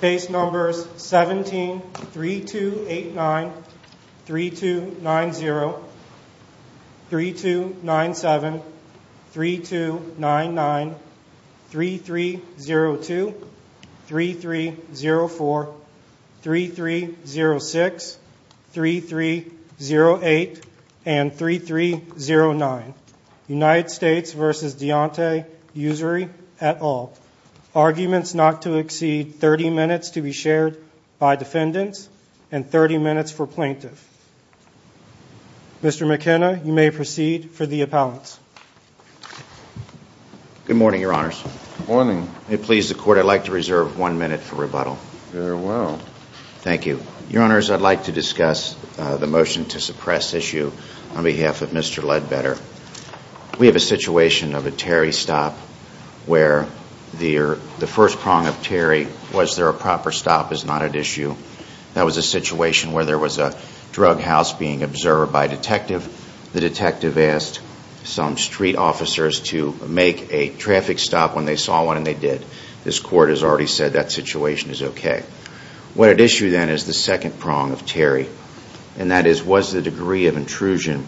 Case Numbers 17, 3289, 3290, 3297, 3299, 3302, 3304, 3306, 3308, and 3309 United States v. Deonte Ussury et al. Arguments not to exceed 30 minutes to be shared by defendants and 30 minutes for plaintiffs. Mr. McKenna, you may proceed for the appellants. Good morning, Your Honors. Good morning. If it pleases the Court, I'd like to reserve one minute for rebuttal. Very well. Thank you. Your Honors, I'd like to discuss the motion to suppress issue on behalf of Mr. Ledbetter. We have a situation of a Terry stop where the first prong of Terry, was there a proper stop, is not at issue. That was a situation where there was a drug house being observed by a detective. The detective asked some street officers to make a traffic stop when they saw one, and they did. This Court has already said that situation is okay. What at issue then is the second prong of Terry, and that is, was the degree of intrusion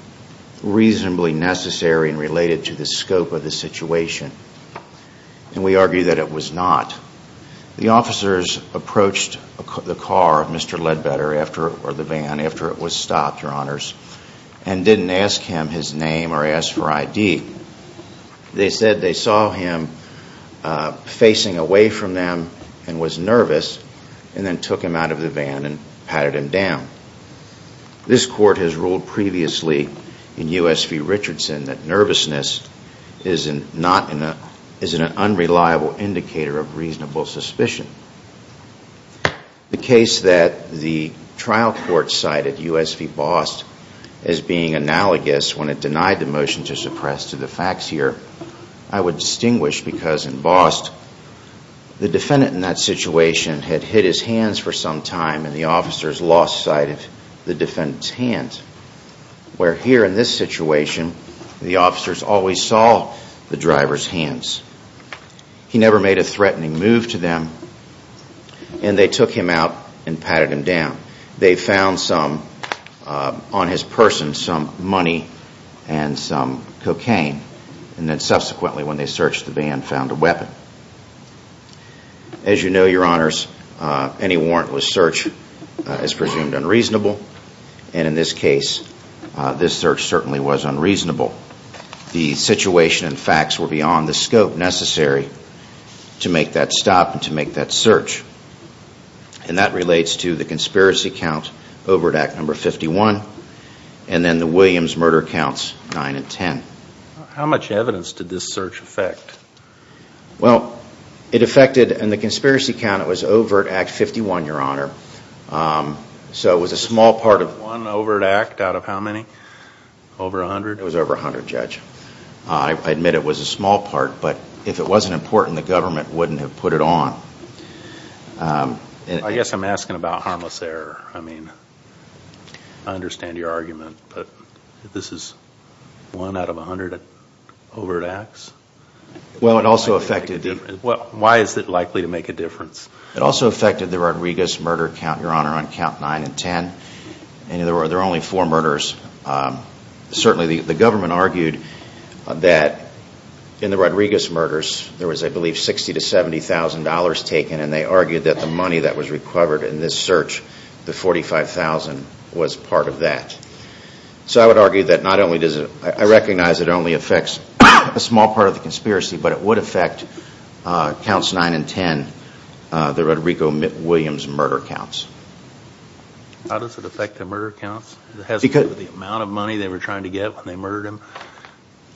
reasonably necessary and related to the scope of the situation? And we argue that it was not. The officers approached the car of Mr. Ledbetter, or the van, after it was stopped, Your Honors, and didn't ask him his name or ask for ID. They said they saw him facing away from them and was nervous, and then took him out of the van and patted him down. This Court has ruled previously in U.S. v. Richardson that nervousness is an unreliable indicator of reasonable suspicion. The case that the trial court cited, U.S. v. Bost, as being analogous when it denied the motion to suppress to the facts here, I would distinguish because in Bost, the defendant in that situation had hit his hands for some time, and the officers lost sight of the defendant's hands. Where here in this situation, the officers always saw the driver's hands. He never made a threatening move to them, and they took him out and patted him down. They found some, on his person, some money and some cocaine, and then subsequently when they searched the van, found a weapon. As you know, Your Honors, any warrantless search is presumed unreasonable, and in this case, this search certainly was unreasonable. The situation and facts were beyond the scope necessary to make that stop and to make that search. And that relates to the conspiracy count, Overt Act No. 51, and then the Williams murder counts 9 and 10. How much evidence did this search affect? Well, it affected, in the conspiracy count, it was Overt Act 51, Your Honor, so it was a small part of... One overt act out of how many? Over 100? It was over 100, Judge. I admit it was a small part, but if it wasn't important, the government wouldn't have put it on. I guess I'm asking about harmless error. I mean, I understand your argument, but this is one out of 100 overt acts? Well, it also affected... Why is it likely to make a difference? It also affected the Rodriguez murder count, Your Honor, on count 9 and 10. There were only four murders. Certainly, the government argued that in the Rodriguez murders, there was, I believe, $60,000 to $70,000 taken, and they argued that the money that was recovered in this search, the $45,000, was part of that. So I would argue that not only does it... I recognize it only affects a small part of the conspiracy, but it would affect counts 9 and 10, the Rodrigo Williams murder counts. How does it affect the murder counts? Has it to do with the amount of money they were trying to get when they murdered him?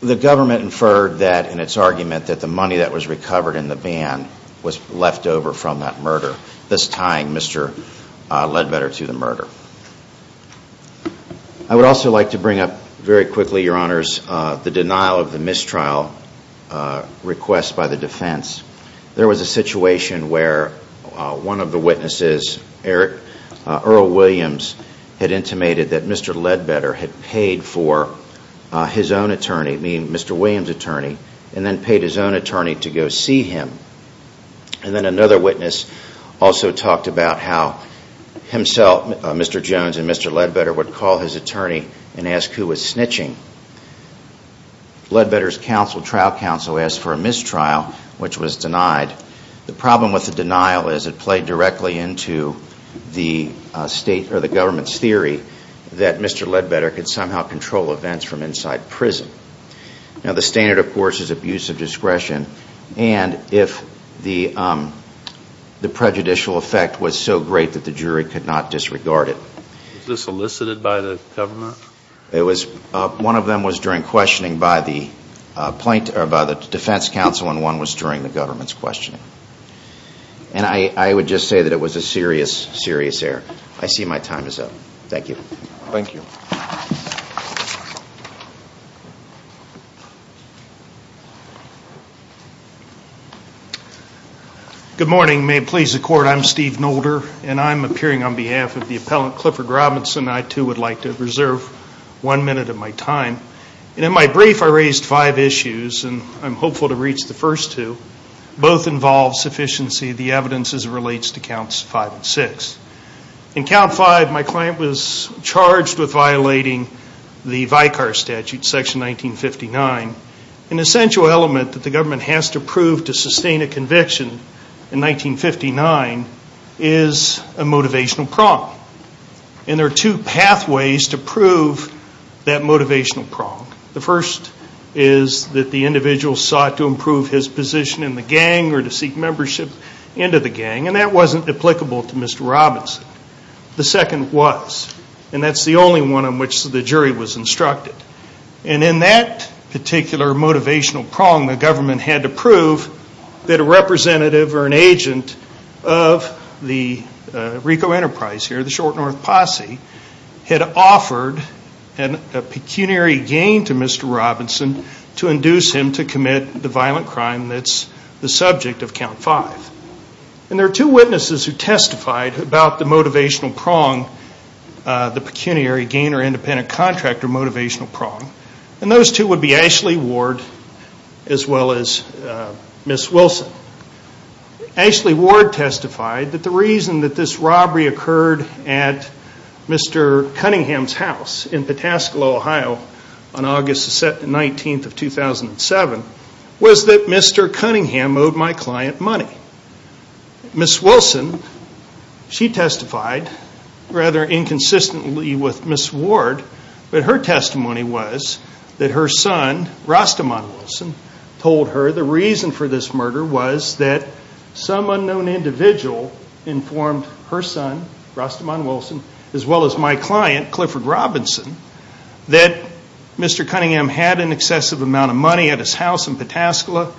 The government inferred that, in its argument, that the money that was recovered in the van was left over from that murder. This tying, Mr. Ledbetter, to the murder. I would also like to bring up, very quickly, Your Honors, the denial of the mistrial request by the defense. There was a situation where one of the witnesses, Earl Williams, had intimated that Mr. Ledbetter had paid for his own attorney, meaning Mr. Williams' attorney, and then paid his own attorney to go see him. And then another witness also talked about how himself, Mr. Jones and Mr. Ledbetter, would call his attorney and ask who was snitching. Ledbetter's trial counsel asked for a mistrial, which was denied. The problem with the denial is it played directly into the government's theory that Mr. Ledbetter could somehow control events from inside prison. Now the standard, of course, is abuse of discretion. And if the prejudicial effect was so great that the jury could not disregard it. Was this elicited by the government? One of them was during questioning by the defense counsel, and one was during the government's questioning. And I would just say that it was a serious, serious error. I see my time is up. Thank you. Thank you. Good morning. May it please the Court, I'm Steve Nolder, and I'm appearing on behalf of the appellant Clifford Robinson. I, too, would like to reserve one minute of my time. And in my brief, I raised five issues, and I'm hopeful to reach the first two. Both involve sufficiency of the evidence as it relates to Counts 5 and 6. In Count 5, my client was charged with violating the Vicar Statute, Section 1959. An essential element that the government has to prove to sustain a conviction in 1959 is a motivational prompt. And there are two pathways to prove that motivational prompt. The first is that the individual sought to improve his position in the gang or to seek membership into the gang, and that wasn't applicable to Mr. Robinson. The second was, and that's the only one on which the jury was instructed. And in that particular motivational prompt, the government had to prove that a representative or an agent of the Rico Enterprise here, the short north posse, had offered a pecuniary gain to Mr. Robinson to induce him to commit the violent crime that's the subject of Count 5. And there are two witnesses who testified about the motivational prompt, the pecuniary gain or independent contract or motivational prompt. And those two would be Ashley Ward as well as Ms. Wilson. Ashley Ward testified that the reason that this robbery occurred at Mr. Cunningham's house in Pataskalo, Ohio, on August 19th of 2007 was that Mr. Cunningham owed my client money. Ms. Wilson, she testified rather inconsistently with Ms. Ward, but her testimony was that her son, Rastaman Wilson, told her the reason for this murder was that some unknown individual informed her son, Rastaman Wilson, as well as my client, Clifford Robinson, that Mr. Cunningham had an excessive amount of money at his house in Pataskalo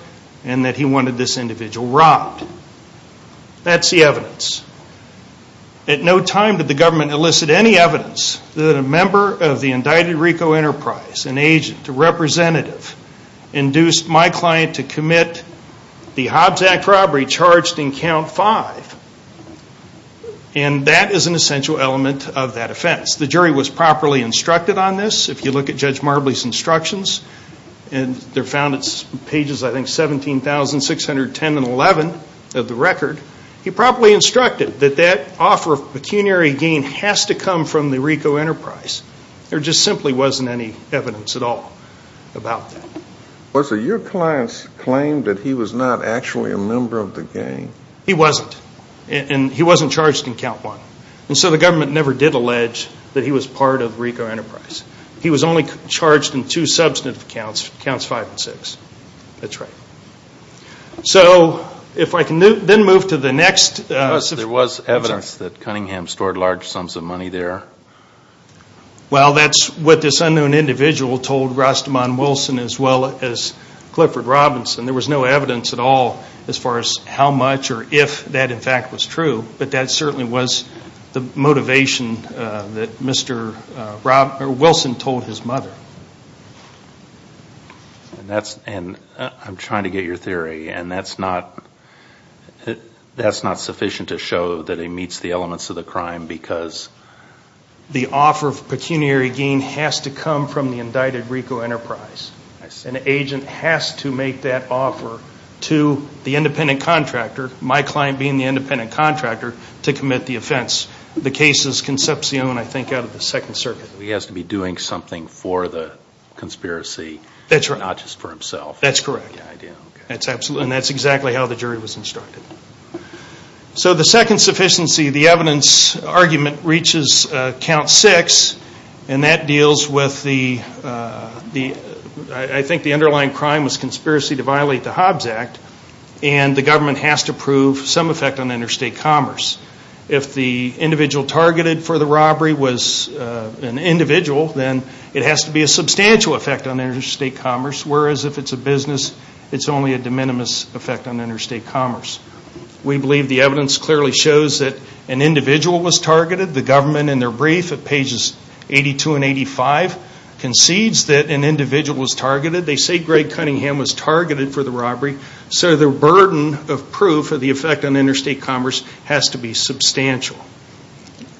and that he wanted this individual robbed. That's the evidence. At no time did the government elicit any evidence that a member of the indicted RICO Enterprise, an agent, a representative, induced my client to commit the Hobbs Act robbery charged in Count 5. And that is an essential element of that offense. The jury was properly instructed on this. If you look at Judge Marbley's instructions, and they're found on pages, I think, 17,610 and 11 of the record, he properly instructed that that offer of pecuniary gain has to come from the RICO Enterprise. There just simply wasn't any evidence at all about that. Was it your client's claim that he was not actually a member of the gang? He wasn't. And he wasn't charged in Count 1. And so the government never did allege that he was part of RICO Enterprise. He was only charged in two substantive counts, Counts 5 and 6. That's right. So if I can then move to the next. There was evidence that Cunningham stored large sums of money there. Well, that's what this unknown individual told Rastaman Wilson as well as Clifford Robinson. There was no evidence at all as far as how much or if that, in fact, was true. But that certainly was the motivation that Wilson told his mother. And I'm trying to get your theory. And that's not sufficient to show that it meets the elements of the crime because the offer of pecuniary gain has to come from the indicted RICO Enterprise. An agent has to make that offer to the independent contractor, my client being the independent contractor, to commit the offense. The case is Concepcion, I think, out of the Second Circuit. He has to be doing something for the conspiracy. That's right. Not just for himself. That's correct. And that's exactly how the jury was instructed. So the second sufficiency, the evidence argument, reaches Count 6. And that deals with the, I think the underlying crime was conspiracy to violate the Hobbs Act. And the government has to prove some effect on interstate commerce. If the individual targeted for the robbery was an individual, then it has to be a substantial effect on interstate commerce. Whereas if it's a business, it's only a de minimis effect on interstate commerce. We believe the evidence clearly shows that an individual was targeted. The government in their brief at pages 82 and 85 concedes that an individual was targeted. They say Greg Cunningham was targeted for the robbery. So the burden of proof of the effect on interstate commerce has to be substantial.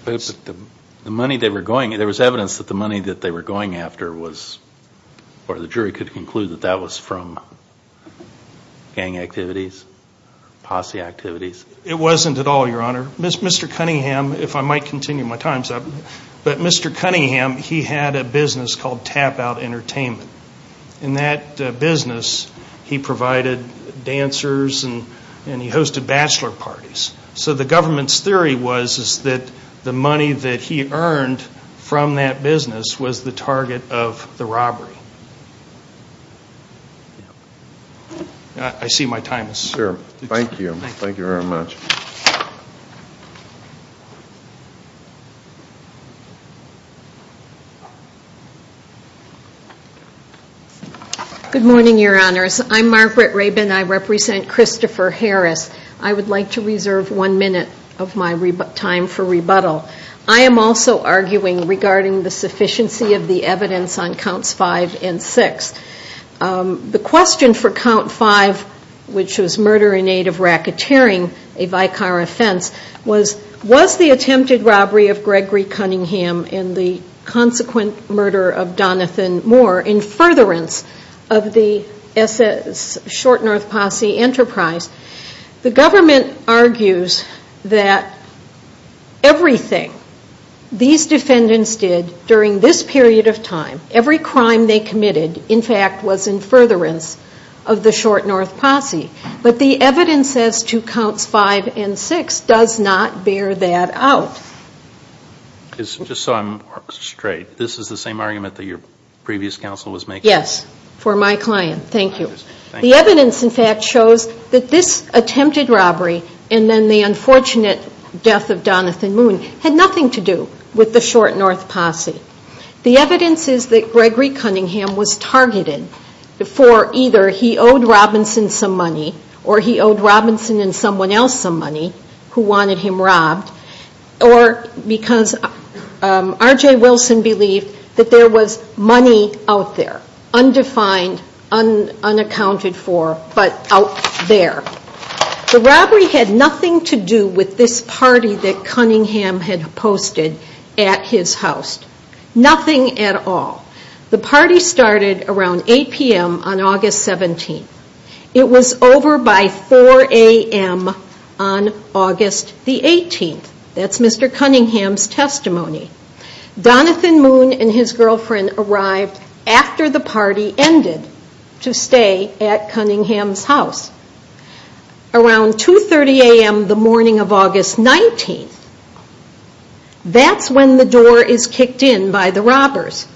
The money they were going, there was evidence that the money that they were going after was, or the jury could conclude that that was from gang activities, posse activities. It wasn't at all, Your Honor. Mr. Cunningham, if I might continue my time's up, but Mr. Cunningham, he had a business called Tap Out Entertainment. In that business, he provided dancers and he hosted bachelor parties. So the government's theory was that the money that he earned from that business was the target of the robbery. I see my time is up. Thank you. Thank you very much. Good morning, Your Honors. I'm Margaret Rabin. I represent Christopher Harris. I would like to reserve one minute of my time for rebuttal. I am also arguing regarding the sufficiency of the evidence on Counts 5 and 6. The question for Count 5, which was murder in aid of racketeering, a vicar offense, was, was the attempted robbery of Gregory Cunningham and the consequent murder of Donathan Moore in furtherance of the SS Short North Posse enterprise? The government argues that everything these defendants did during this period of time, every crime they committed, in fact, was in furtherance of the Short North Posse. But the evidence as to Counts 5 and 6 does not bear that out. Just so I'm straight, this is the same argument that your previous counsel was making? Yes, for my client. Thank you. The evidence, in fact, shows that this attempted robbery and then the unfortunate death of Donathan Moon had nothing to do with the Short North Posse. The evidence is that Gregory Cunningham was targeted for either he owed Robinson some money or he owed Robinson and someone else some money who wanted him robbed or because R.J. Wilson believed that there was money out there, undefined, unaccounted for, but out there. The robbery had nothing to do with this party that Cunningham had posted at his house. Nothing at all. The party started around 8 p.m. on August 17th. It was over by 4 a.m. on August the 18th. Donathan Moon and his girlfriend arrived after the party ended to stay at Cunningham's house. Around 2.30 a.m. the morning of August 19th, that's when the door is kicked in by the robbers.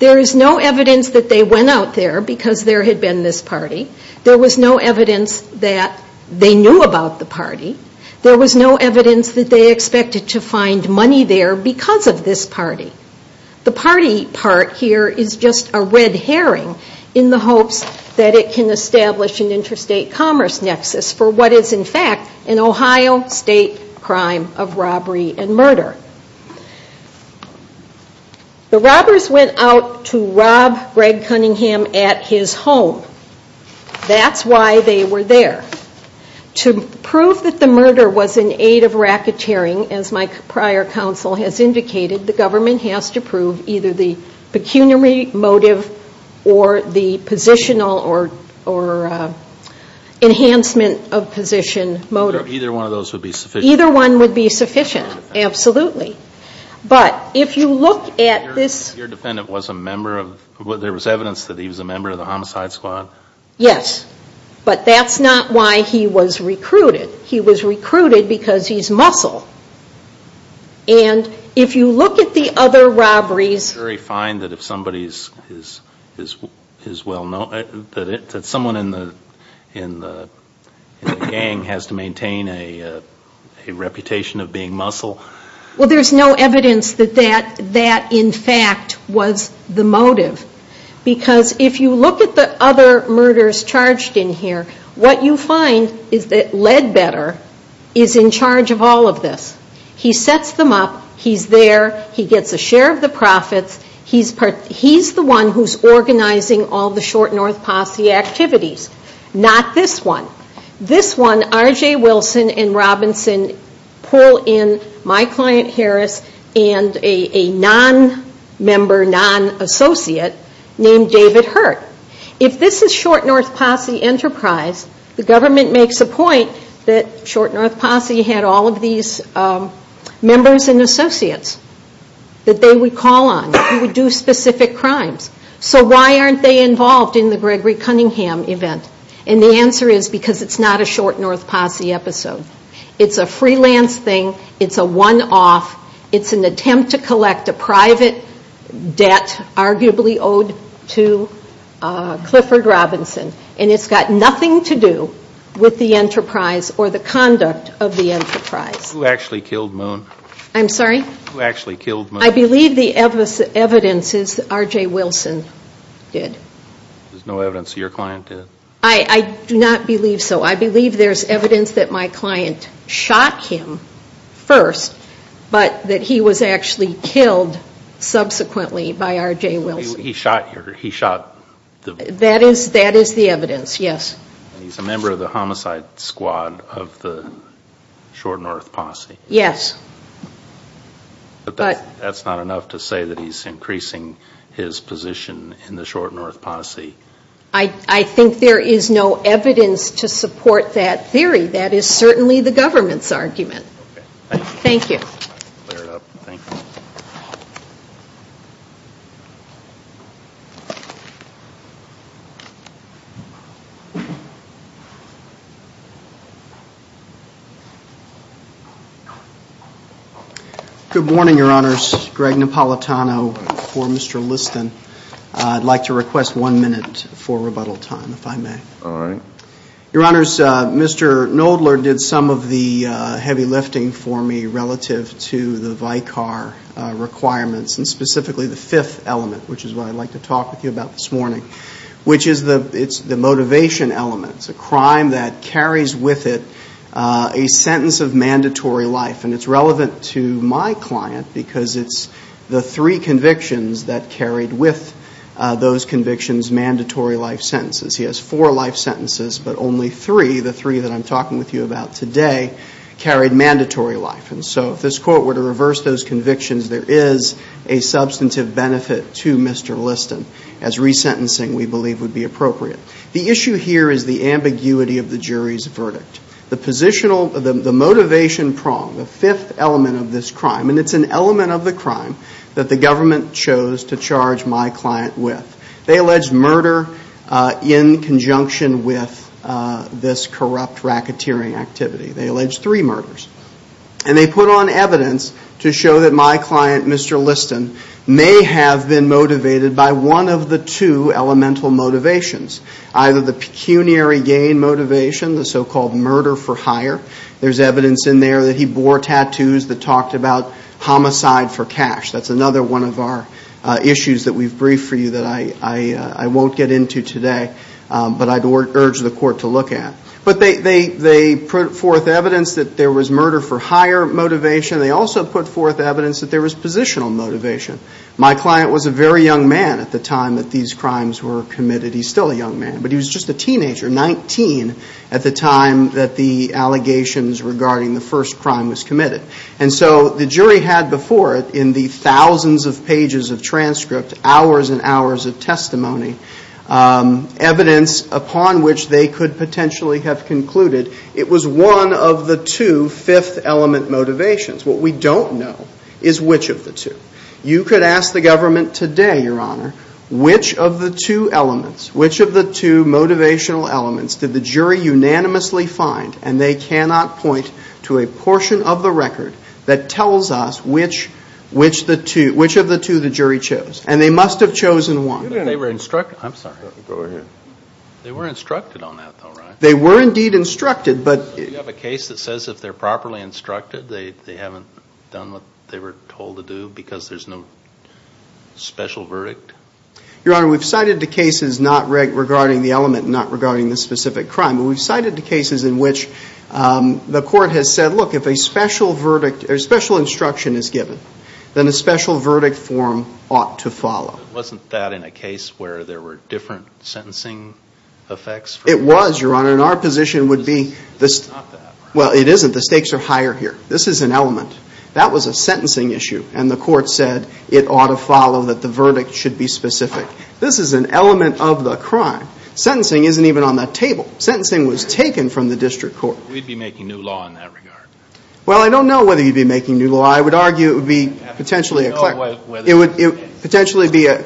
There is no evidence that they went out there because there had been this party. There was no evidence that they knew about the party. There was no evidence that they expected to find money there because of this party. The party part here is just a red herring in the hopes that it can establish an interstate commerce nexus for what is in fact an Ohio state crime of robbery and murder. The robbers went out to rob Greg Cunningham at his home. That's why they were there. To prove that the murder was an aid of racketeering, as my prior counsel has indicated, the government has to prove either the pecuniary motive or the positional or enhancement of position motive. Either one of those would be sufficient. Either one would be sufficient, absolutely. But if you look at this... Your defendant was a member of... there was evidence that he was a member of the homicide squad. Yes, but that's not why he was recruited. He was recruited because he's muscle. And if you look at the other robberies... Is it very fine that someone in the gang has to maintain a reputation of being muscle? Well, there's no evidence that that in fact was the motive. Because if you look at the other murders charged in here, what you find is that Ledbetter is in charge of all of this. He sets them up. He's there. He gets a share of the profits. He's the one who's organizing all the short north posse activities. Not this one. This one, R.J. Wilson and Robinson pull in my client, Harris, and a non-member, non-associate named David Hurt. If this is short north posse enterprise, the government makes a point that short north posse had all of these members and associates that they would call on who would do specific crimes. So why aren't they involved in the Gregory Cunningham event? And the answer is because it's not a short north posse episode. It's a freelance thing. It's a one-off. It's an attempt to collect a private debt arguably owed to Clifford Robinson. And it's got nothing to do with the enterprise or the conduct of the enterprise. Who actually killed Moon? I'm sorry? Who actually killed Moon? I believe the evidence is that R.J. Wilson did. There's no evidence that your client did? I do not believe so. I believe there's evidence that my client shot him first, but that he was actually killed subsequently by R.J. Wilson. He shot? That is the evidence, yes. He's a member of the homicide squad of the short north posse? Yes. But that's not enough to say that he's increasing his position in the short north posse. I think there is no evidence to support that theory. That is certainly the government's argument. Thank you. Good morning, Your Honors. Greg Napolitano for Mr. Liston. I'd like to request one minute for rebuttal time, if I may. All right. Your Honors, Mr. Knoedler did some of the heavy lifting for me relative to the Vicar requirements, and specifically the fifth element, which is what I'd like to talk with you about this morning, which is the motivation element. It's a crime that carries with it a sentence of mandatory life. And it's relevant to my client because it's the three convictions that carried with those convictions mandatory life sentences. He has four life sentences, but only three, the three that I'm talking with you about today, carried mandatory life. And so if this Court were to reverse those convictions, there is a substantive benefit to Mr. Liston, as resentencing, we believe, would be appropriate. The issue here is the ambiguity of the jury's verdict. The motivational prong, the fifth element of this crime, and it's an element of the crime that the government chose to charge my client with. They alleged murder in conjunction with this corrupt racketeering activity. They alleged three murders. And they put on evidence to show that my client, Mr. Liston, may have been motivated by one of the two elemental motivations, either the pecuniary gain motivation, the so-called murder for hire. There's evidence in there that he bore tattoos that talked about homicide for cash. That's another one of our issues that we've briefed for you that I won't get into today, but I'd urge the Court to look at. But they put forth evidence that there was murder for hire motivation. They also put forth evidence that there was positional motivation. My client was a very young man at the time that these crimes were committed. He's still a young man, but he was just a teenager, 19, at the time that the allegations regarding the first crime was committed. And so the jury had before it in the thousands of pages of transcript, hours and hours of testimony, evidence upon which they could potentially have concluded it was one of the two fifth element motivations. What we don't know is which of the two. You could ask the government today, Your Honor, which of the two elements, which of the two motivational elements did the jury unanimously find, and they cannot point to a portion of the record that tells us which of the two the jury chose. And they must have chosen one. They were instructed on that, though, right? They were indeed instructed. You have a case that says if they're properly instructed, they haven't done what they were told to do because there's no special verdict? Your Honor, we've cited the cases not regarding the element, not regarding the specific crime. We've cited the cases in which the court has said, look, if a special instruction is given, then a special verdict form ought to follow. Wasn't that in a case where there were different sentencing effects? It was, Your Honor. And our position would be this. Well, it isn't. The stakes are higher here. This is an element. That was a sentencing issue, and the court said it ought to follow that the verdict should be specific. This is an element of the crime. Sentencing isn't even on that table. Sentencing was taken from the district court. We'd be making new law in that regard. Well, I don't know whether you'd be making new law. I would argue it would be potentially a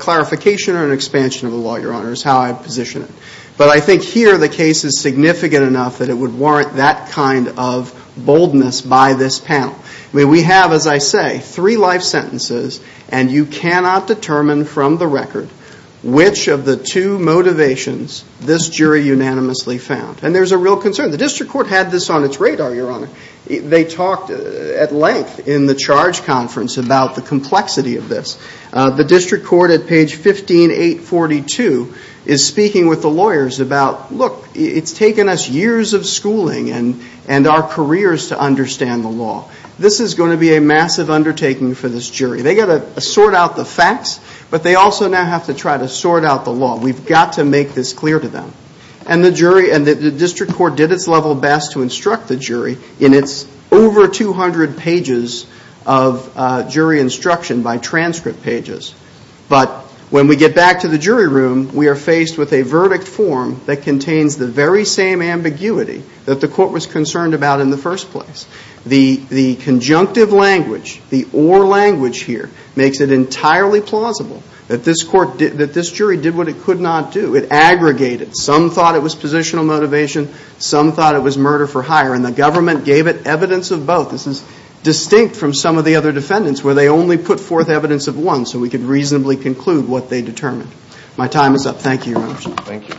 clarification or an expansion of the law, Your Honor, is how I'd position it. But I think here the case is significant enough that it would warrant that kind of boldness by this panel. I mean, we have, as I say, three life sentences, and you cannot determine from the record which of the two motivations this jury unanimously found. And there's a real concern. The district court had this on its radar, Your Honor. They talked at length in the charge conference about the complexity of this. The district court at page 15842 is speaking with the lawyers about, look, it's taken us years of schooling and our careers to understand the law. This is going to be a massive undertaking for this jury. They've got to sort out the facts, but they also now have to try to sort out the law. We've got to make this clear to them. And the district court did its level best to instruct the jury in its over 200 pages of jury instruction by transcript pages. But when we get back to the jury room, we are faced with a verdict form that contains the very same ambiguity that the court was concerned about in the first place. The conjunctive language, the or language here, makes it entirely plausible that this jury did what it could not do. It aggregated. Some thought it was positional motivation. Some thought it was murder for hire. And the government gave it evidence of both. This is distinct from some of the other defendants where they only put forth evidence of one so we could reasonably conclude what they determined. My time is up. Thank you, Your Honor. Thank you.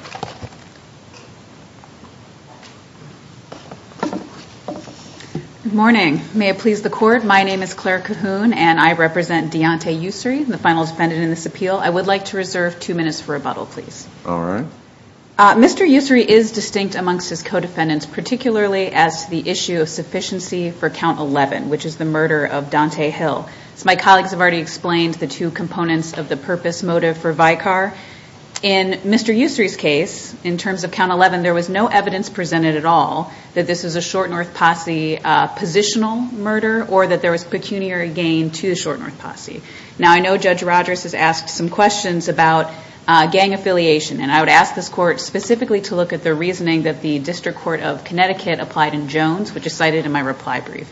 Good morning. May it please the court, my name is Claire Cahoon and I represent Deontay Ussery, the final defendant in this appeal. I would like to reserve two minutes for rebuttal, please. All right. Mr. Ussery is distinct amongst his co-defendants, particularly as to the issue of sufficiency for count 11, which is the murder of Deontay Hill. My colleagues have already explained the two components of the purpose motive for Vicar. In Mr. Ussery's case, in terms of count 11, there was no evidence presented at all that this is a short north posse positional murder or that there was pecuniary gain to short north posse. Now, I know Judge Rogers has asked some questions about gang affiliation and I would ask this court specifically to look at the reasoning that the District Court of Connecticut applied in Jones, which is cited in my reply brief.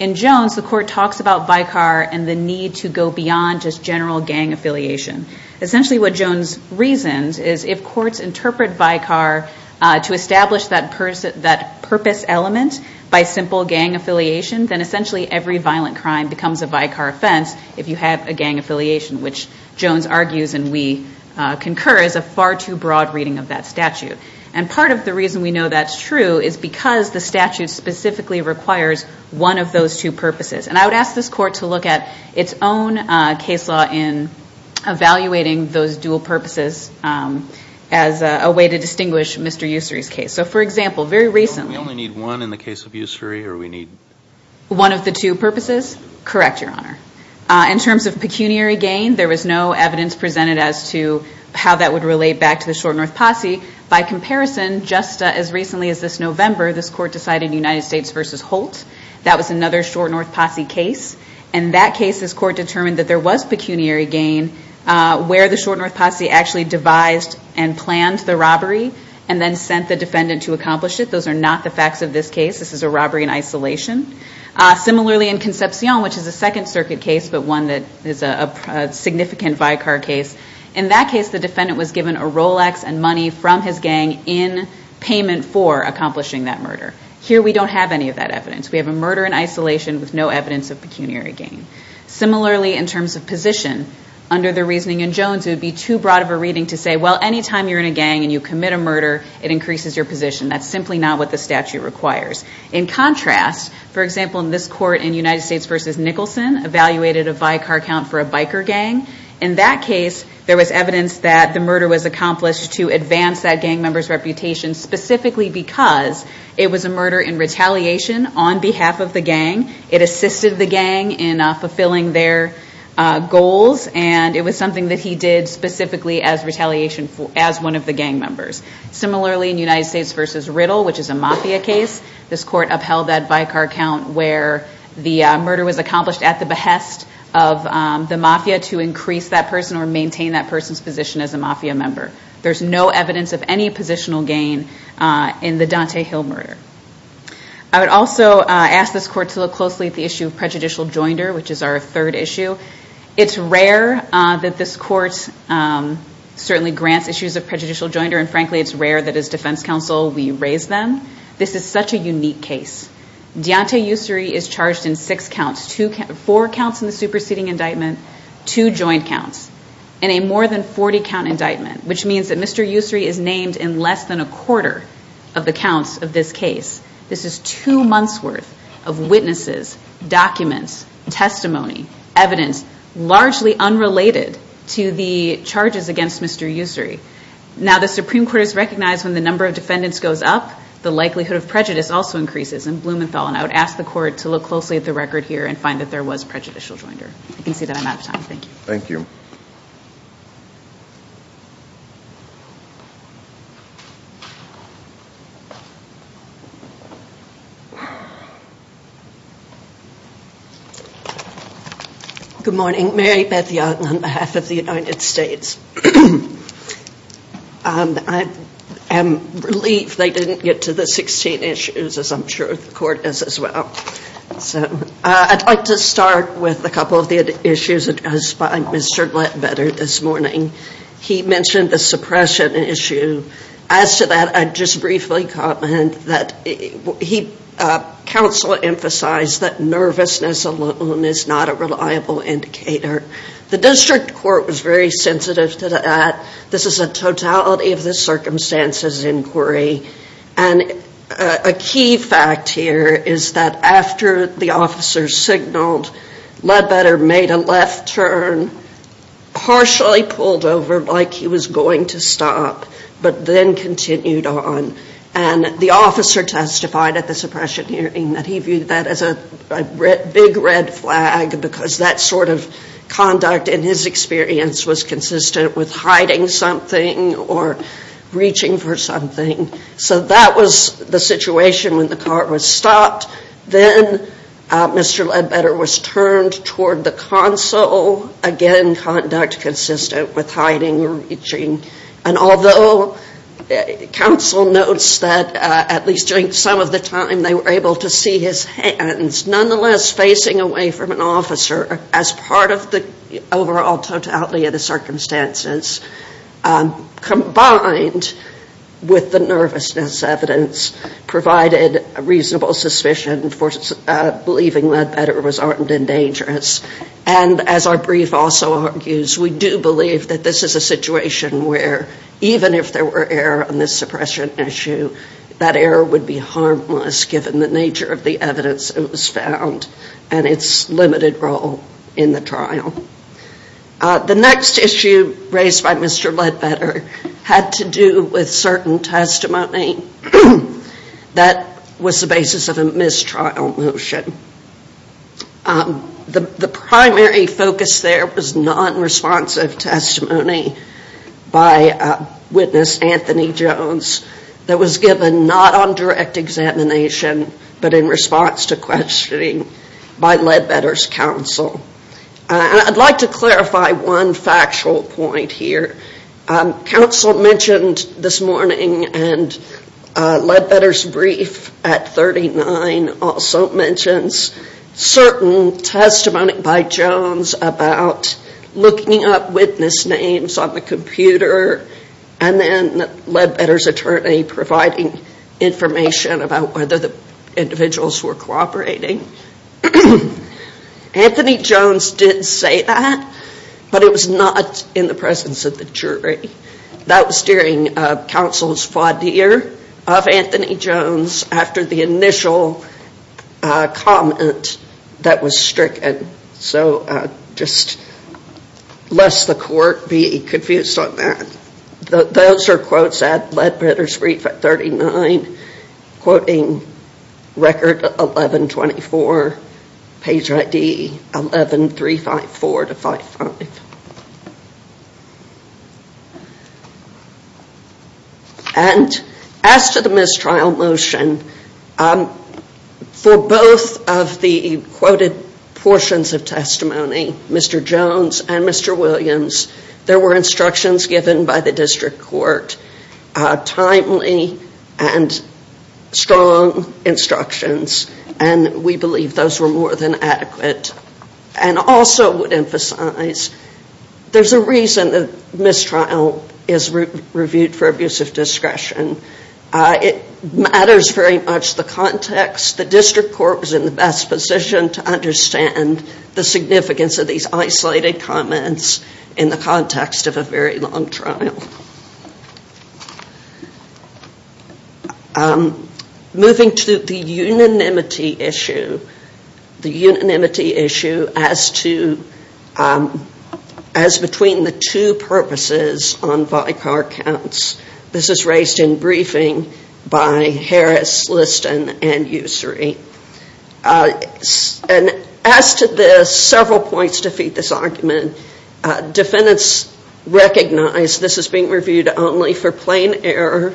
In Jones, the court talks about Vicar and the need to go beyond just general gang affiliation. Essentially what Jones reasons is if courts interpret Vicar to establish that purpose element by simple gang affiliation, then essentially every violent crime becomes a Vicar offense if you have a gang affiliation, which Jones argues and we concur is a far too broad reading of that statute. And part of the reason we know that's true is because the statute specifically requires one of those two purposes. And I would ask this court to look at its own case law in evaluating those dual purposes as a way to distinguish Mr. Ussery's case. So, for example, very recently. We only need one in the case of Ussery or we need? One of the two purposes? Correct, Your Honor. In terms of pecuniary gain, there was no evidence presented as to how that would relate back to the short north posse. By comparison, just as recently as this November, this court decided United States versus Holt. That was another short north posse case. In that case, this court determined that there was pecuniary gain where the short north posse actually devised and planned the robbery and then sent the defendant to accomplish it. Those are not the facts of this case. This is a robbery in isolation. Similarly, in Concepcion, which is a Second Circuit case but one that is a significant Vicar case. In that case, the defendant was given a Rolex and money from his gang in payment for accomplishing that murder. Here, we don't have any of that evidence. We have a murder in isolation with no evidence of pecuniary gain. Similarly, in terms of position, under the reasoning in Jones, it would be too broad of a reading to say, well, any time you're in a gang and you commit a murder, it increases your position. That's simply not what the statute requires. In contrast, for example, in this court in United States versus Nicholson, evaluated a Vicar count for a biker gang. In that case, there was evidence that the murder was accomplished to advance that gang member's reputation specifically because it was a murder in retaliation on behalf of the gang. It assisted the gang in fulfilling their goals, and it was something that he did specifically as retaliation as one of the gang members. Similarly, in United States versus Riddle, which is a Mafia case, this court upheld that Vicar count where the murder was accomplished at the behest of the Mafia to increase that person or maintain that person's position as a Mafia member. There's no evidence of any positional gain in the Dante Hill murder. I would also ask this court to look closely at the issue of prejudicial joinder, which is our third issue. It's rare that this court certainly grants issues of prejudicial joinder, and frankly, it's rare that as defense counsel we raise them. This is such a unique case. Deontay Ussery is charged in six counts, four counts in the superseding indictment, two joint counts, and a more than 40-count indictment, which means that Mr. Ussery is named in less than a quarter of the counts of this case. This is two months' worth of witnesses, documents, testimony, evidence largely unrelated to the charges against Mr. Ussery. Now, the Supreme Court has recognized when the number of defendants goes up, the likelihood of prejudice also increases in Blumenthal, and I would ask the court to look closely at the record here and find that there was prejudicial joinder. I can see that I'm out of time. Thank you. Thank you. Good morning. Mary Beth Young on behalf of the United States. I am relieved they didn't get to the 16 issues, as I'm sure the court is as well. So I'd like to start with a couple of the issues addressed by Mr. Glatz. He mentioned the suppression issue. As to that, I'd just briefly comment that counsel emphasized that nervousness alone is not a reliable indicator. The district court was very sensitive to that. This is a totality of the circumstances inquiry, and a key fact here is that after the officer signaled, Ledbetter made a left turn, partially pulled over like he was going to stop, but then continued on. And the officer testified at the suppression hearing that he viewed that as a big red flag because that sort of conduct in his experience was consistent with hiding something or reaching for something. So that was the situation when the court was stopped. Then Mr. Ledbetter was turned toward the counsel, again, conduct consistent with hiding or reaching. And although counsel notes that at least during some of the time they were able to see his hands, nonetheless facing away from an officer as part of the overall totality of the circumstances, combined with the nervousness evidence provided a reasonable suspicion for believing Ledbetter was armed and dangerous. And as our brief also argues, we do believe that this is a situation where even if there were error on this suppression issue, that error would be harmless given the nature of the evidence that was found and its limited role in the trial. The next issue raised by Mr. Ledbetter had to do with certain testimony that was the basis of a mistrial motion. The primary focus there was non-responsive testimony by witness Anthony Jones that was given not on direct examination, but in response to questioning by Ledbetter's counsel. I'd like to clarify one factual point here. Counsel mentioned this morning and Ledbetter's brief at 39 also mentions certain testimony by Jones about looking up witness names on the computer and then Ledbetter's attorney providing information about whether the individuals were cooperating. Anthony Jones did say that, but it was not in the presence of the jury. That was during counsel's fadir of Anthony Jones after the initial comment that was stricken. So just lest the court be confused on that. Those are quotes at Ledbetter's brief at 39, quoting record 11-24, page ID 11-354-55. And as to the mistrial motion, for both of the quoted portions of testimony, Mr. Jones and Mr. Williams, there were instructions given by the district court, timely and strong instructions. And we believe those were more than adequate. And also would emphasize there's a reason that mistrial is reviewed for abuse of discretion. It matters very much the context. The district court was in the best position to understand the significance of these isolated comments in the context of a very long trial. Moving to the unanimity issue. The unanimity issue as to, as between the two purposes on Vicar counts. This is raised in briefing by Harris, Liston, and Usry. And as to this, several points defeat this argument. Defendants recognize this is being reviewed only for plain error.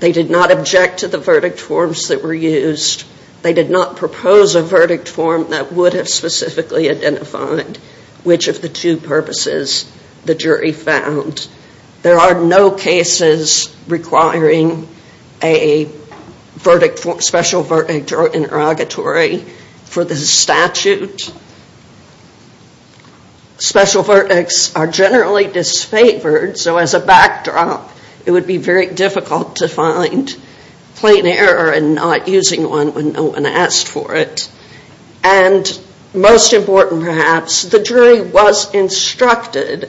They did not object to the verdict forms that were used. They did not propose a verdict form that would have specifically identified which of the two purposes the jury found. There are no cases requiring a special verdict or interrogatory for the statute. Special verdicts are generally disfavored. So as a backdrop, it would be very difficult to find plain error in not using one when no one asked for it. And most important perhaps, the jury was instructed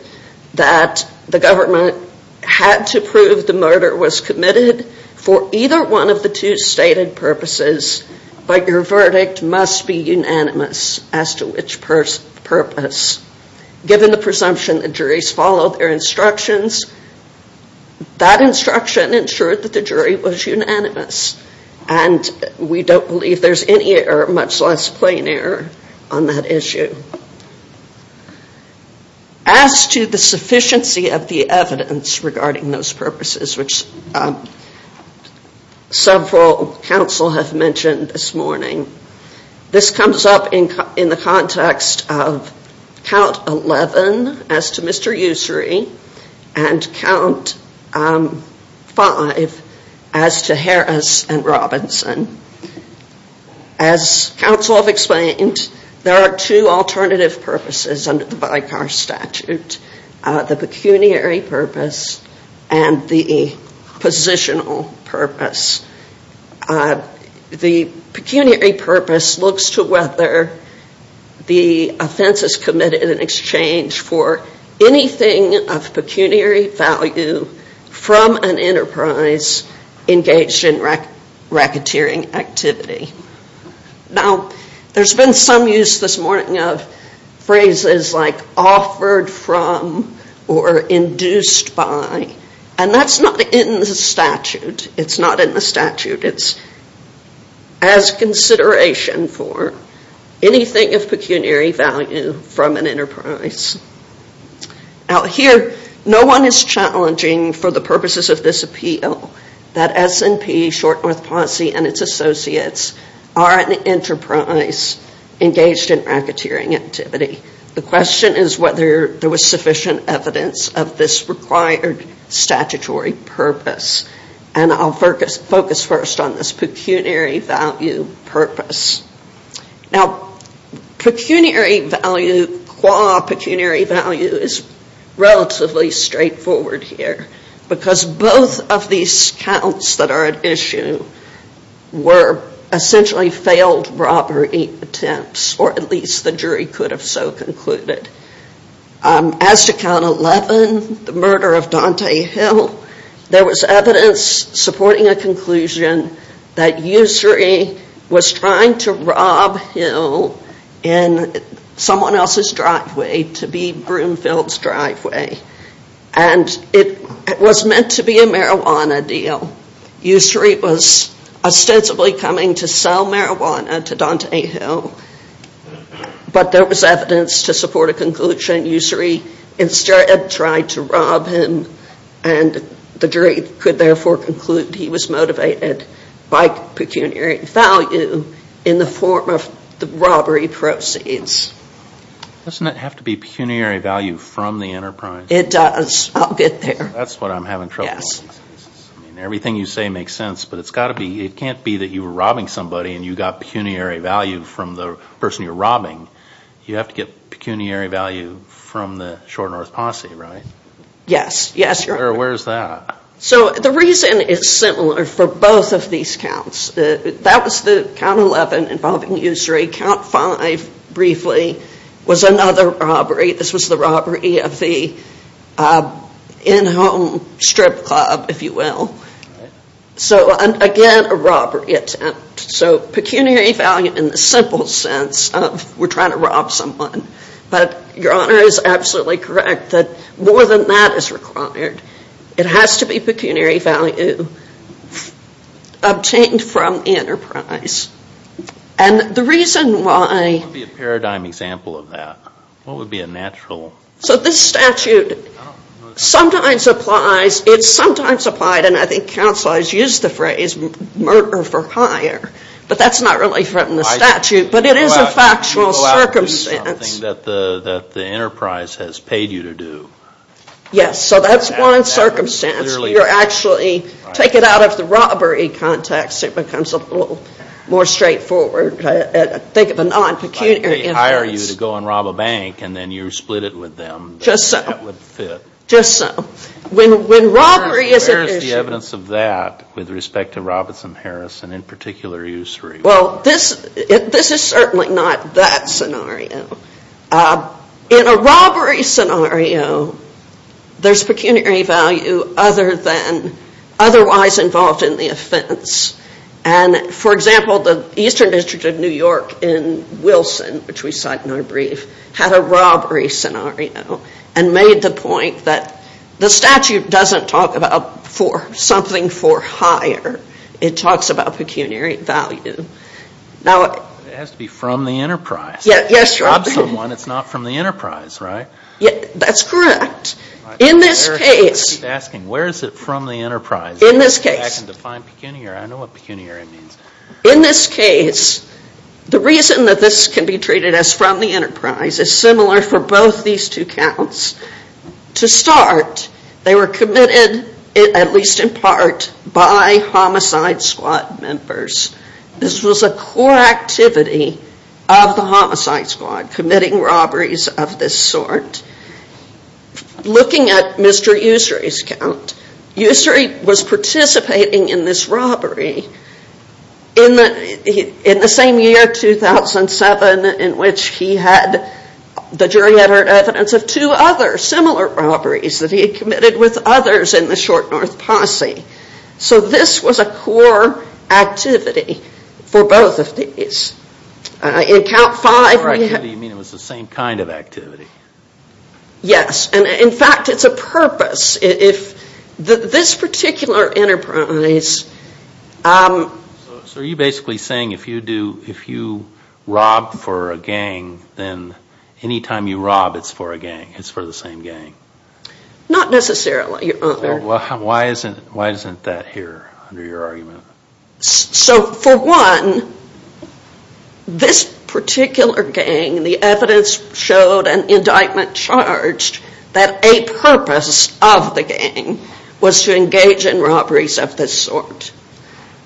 that the government had to prove the murder was committed for either one of the two stated purposes. But your verdict must be unanimous as to which purpose. Given the presumption that juries follow their instructions, that instruction ensured that the jury was unanimous. And we don't believe there's any or much less plain error on that issue. As to the sufficiency of the evidence regarding those purposes, which several counsel have mentioned this morning, this comes up in the context of Count 11 as to Mr. Ussery and Count 5 as to Harris and Robinson. As counsel have explained, there are two alternative purposes under the Vicar Statute, the pecuniary purpose and the positional purpose. The pecuniary purpose looks to whether the offense is committed in exchange for anything of pecuniary value from an enterprise engaged in racketeering activity. Now, there's been some use this morning of phrases like offered from or induced by. And that's not in the statute. It's not in the statute. It's as consideration for anything of pecuniary value from an enterprise. Out here, no one is challenging for the purposes of this appeal that S&P, Short North Posse, and its associates are an enterprise engaged in racketeering activity. The question is whether there was sufficient evidence of this required statutory purpose. And I'll focus first on this pecuniary value purpose. Now, pecuniary value, qua pecuniary value is relatively straightforward here. Because both of these counts that are at issue were essentially failed robbery attempts, or at least the jury could have so concluded. As to Count 11, the murder of Dante Hill, there was evidence supporting a conclusion that Ussery was trying to rob Hill in someone else's driveway to be Broomfield's driveway. And it was meant to be a marijuana deal. Ussery was ostensibly coming to sell marijuana to Dante Hill. But there was evidence to support a conclusion Ussery instead tried to rob him. And the jury could therefore conclude he was motivated by pecuniary value in the form of the robbery proceeds. Doesn't it have to be pecuniary value from the enterprise? It does. I'll get there. That's what I'm having trouble with. Everything you say makes sense, but it can't be that you were robbing somebody and you got pecuniary value from the person you're robbing. You have to get pecuniary value from the Short North Posse, right? Yes, yes. Where is that? So the reason is similar for both of these counts. That was the count 11 involving Ussery. Count 5, briefly, was another robbery. This was the robbery of the in-home strip club, if you will. So again, a robbery attempt. So pecuniary value in the simple sense of we're trying to rob someone. But Your Honor is absolutely correct that more than that is required. It has to be pecuniary value. Obtained from enterprise. And the reason why... What would be a paradigm example of that? What would be a natural... So this statute sometimes applies. It's sometimes applied, and I think counsel has used the phrase, murder for hire. But that's not really from the statute. But it is a factual circumstance. Something that the enterprise has paid you to do. Yes, so that's one circumstance. You're actually... Take it out of the robbery context. It becomes a little more straightforward. Think of a non-pecuniary... They hire you to go and rob a bank, and then you split it with them. Just so. That would fit. Just so. When robbery is an issue... Where is the evidence of that with respect to Robinson & Harrison, and in particular Ussery? Well, this is certainly not that scenario. In a robbery scenario, there's pecuniary value other than... Otherwise involved in the offense. And, for example, the Eastern District of New York in Wilson, which we cite in our brief, had a robbery scenario and made the point that the statute doesn't talk about something for hire. It talks about pecuniary value. It has to be from the enterprise. Yes, you're right. If you rob someone, it's not from the enterprise, right? That's correct. In this case... I keep asking, where is it from the enterprise? In this case... To go back and define pecuniary. I know what pecuniary means. In this case, the reason that this can be treated as from the enterprise is similar for both these two counts. To start, they were committed, at least in part, by homicide squad members. This was a core activity of the homicide squad, committing robberies of this sort. Looking at Mr. Ussery's count, Ussery was participating in this robbery in the same year, 2007, in which he had the jury-edited evidence of two other similar robberies that he had committed with others in the Short North Posse. This was a core activity for both of these. In count five... By core activity, you mean it was the same kind of activity? Yes. In fact, it's a purpose. This particular enterprise... Are you basically saying if you rob for a gang, then anytime you rob, it's for the same gang? Not necessarily, Your Honor. Why isn't that here under your argument? For one, this particular gang, the evidence showed an indictment charged that a purpose of the gang was to engage in robberies of this sort.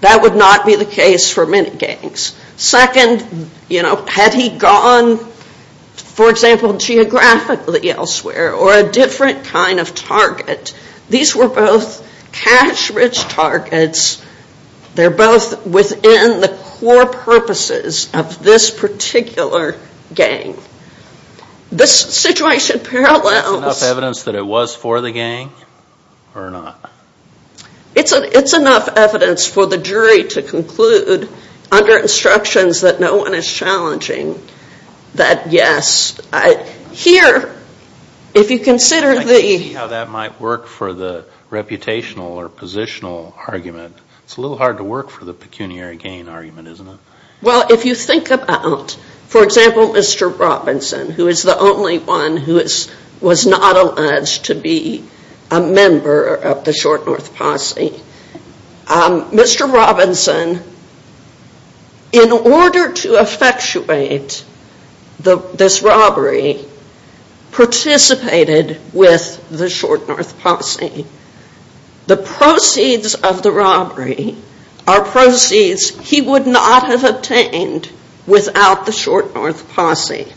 That would not be the case for many gangs. Second, had he gone, for example, geographically elsewhere or a different kind of target, these were both cash-rich targets. They're both within the core purposes of this particular gang. This situation parallels... Is this enough evidence that it was for the gang or not? It's enough evidence for the jury to conclude, under instructions that no one is challenging, that yes. Here, if you consider the... I see how that might work for the reputational or positional argument. It's a little hard to work for the pecuniary gang argument, isn't it? Well, if you think about, for example, Mr. Robinson, who is the only one who was not alleged to be a member of the Short North Posse. Mr. Robinson, in order to effectuate this robbery, participated with the Short North Posse. The proceeds of the robbery are proceeds he would not have obtained without the Short North Posse.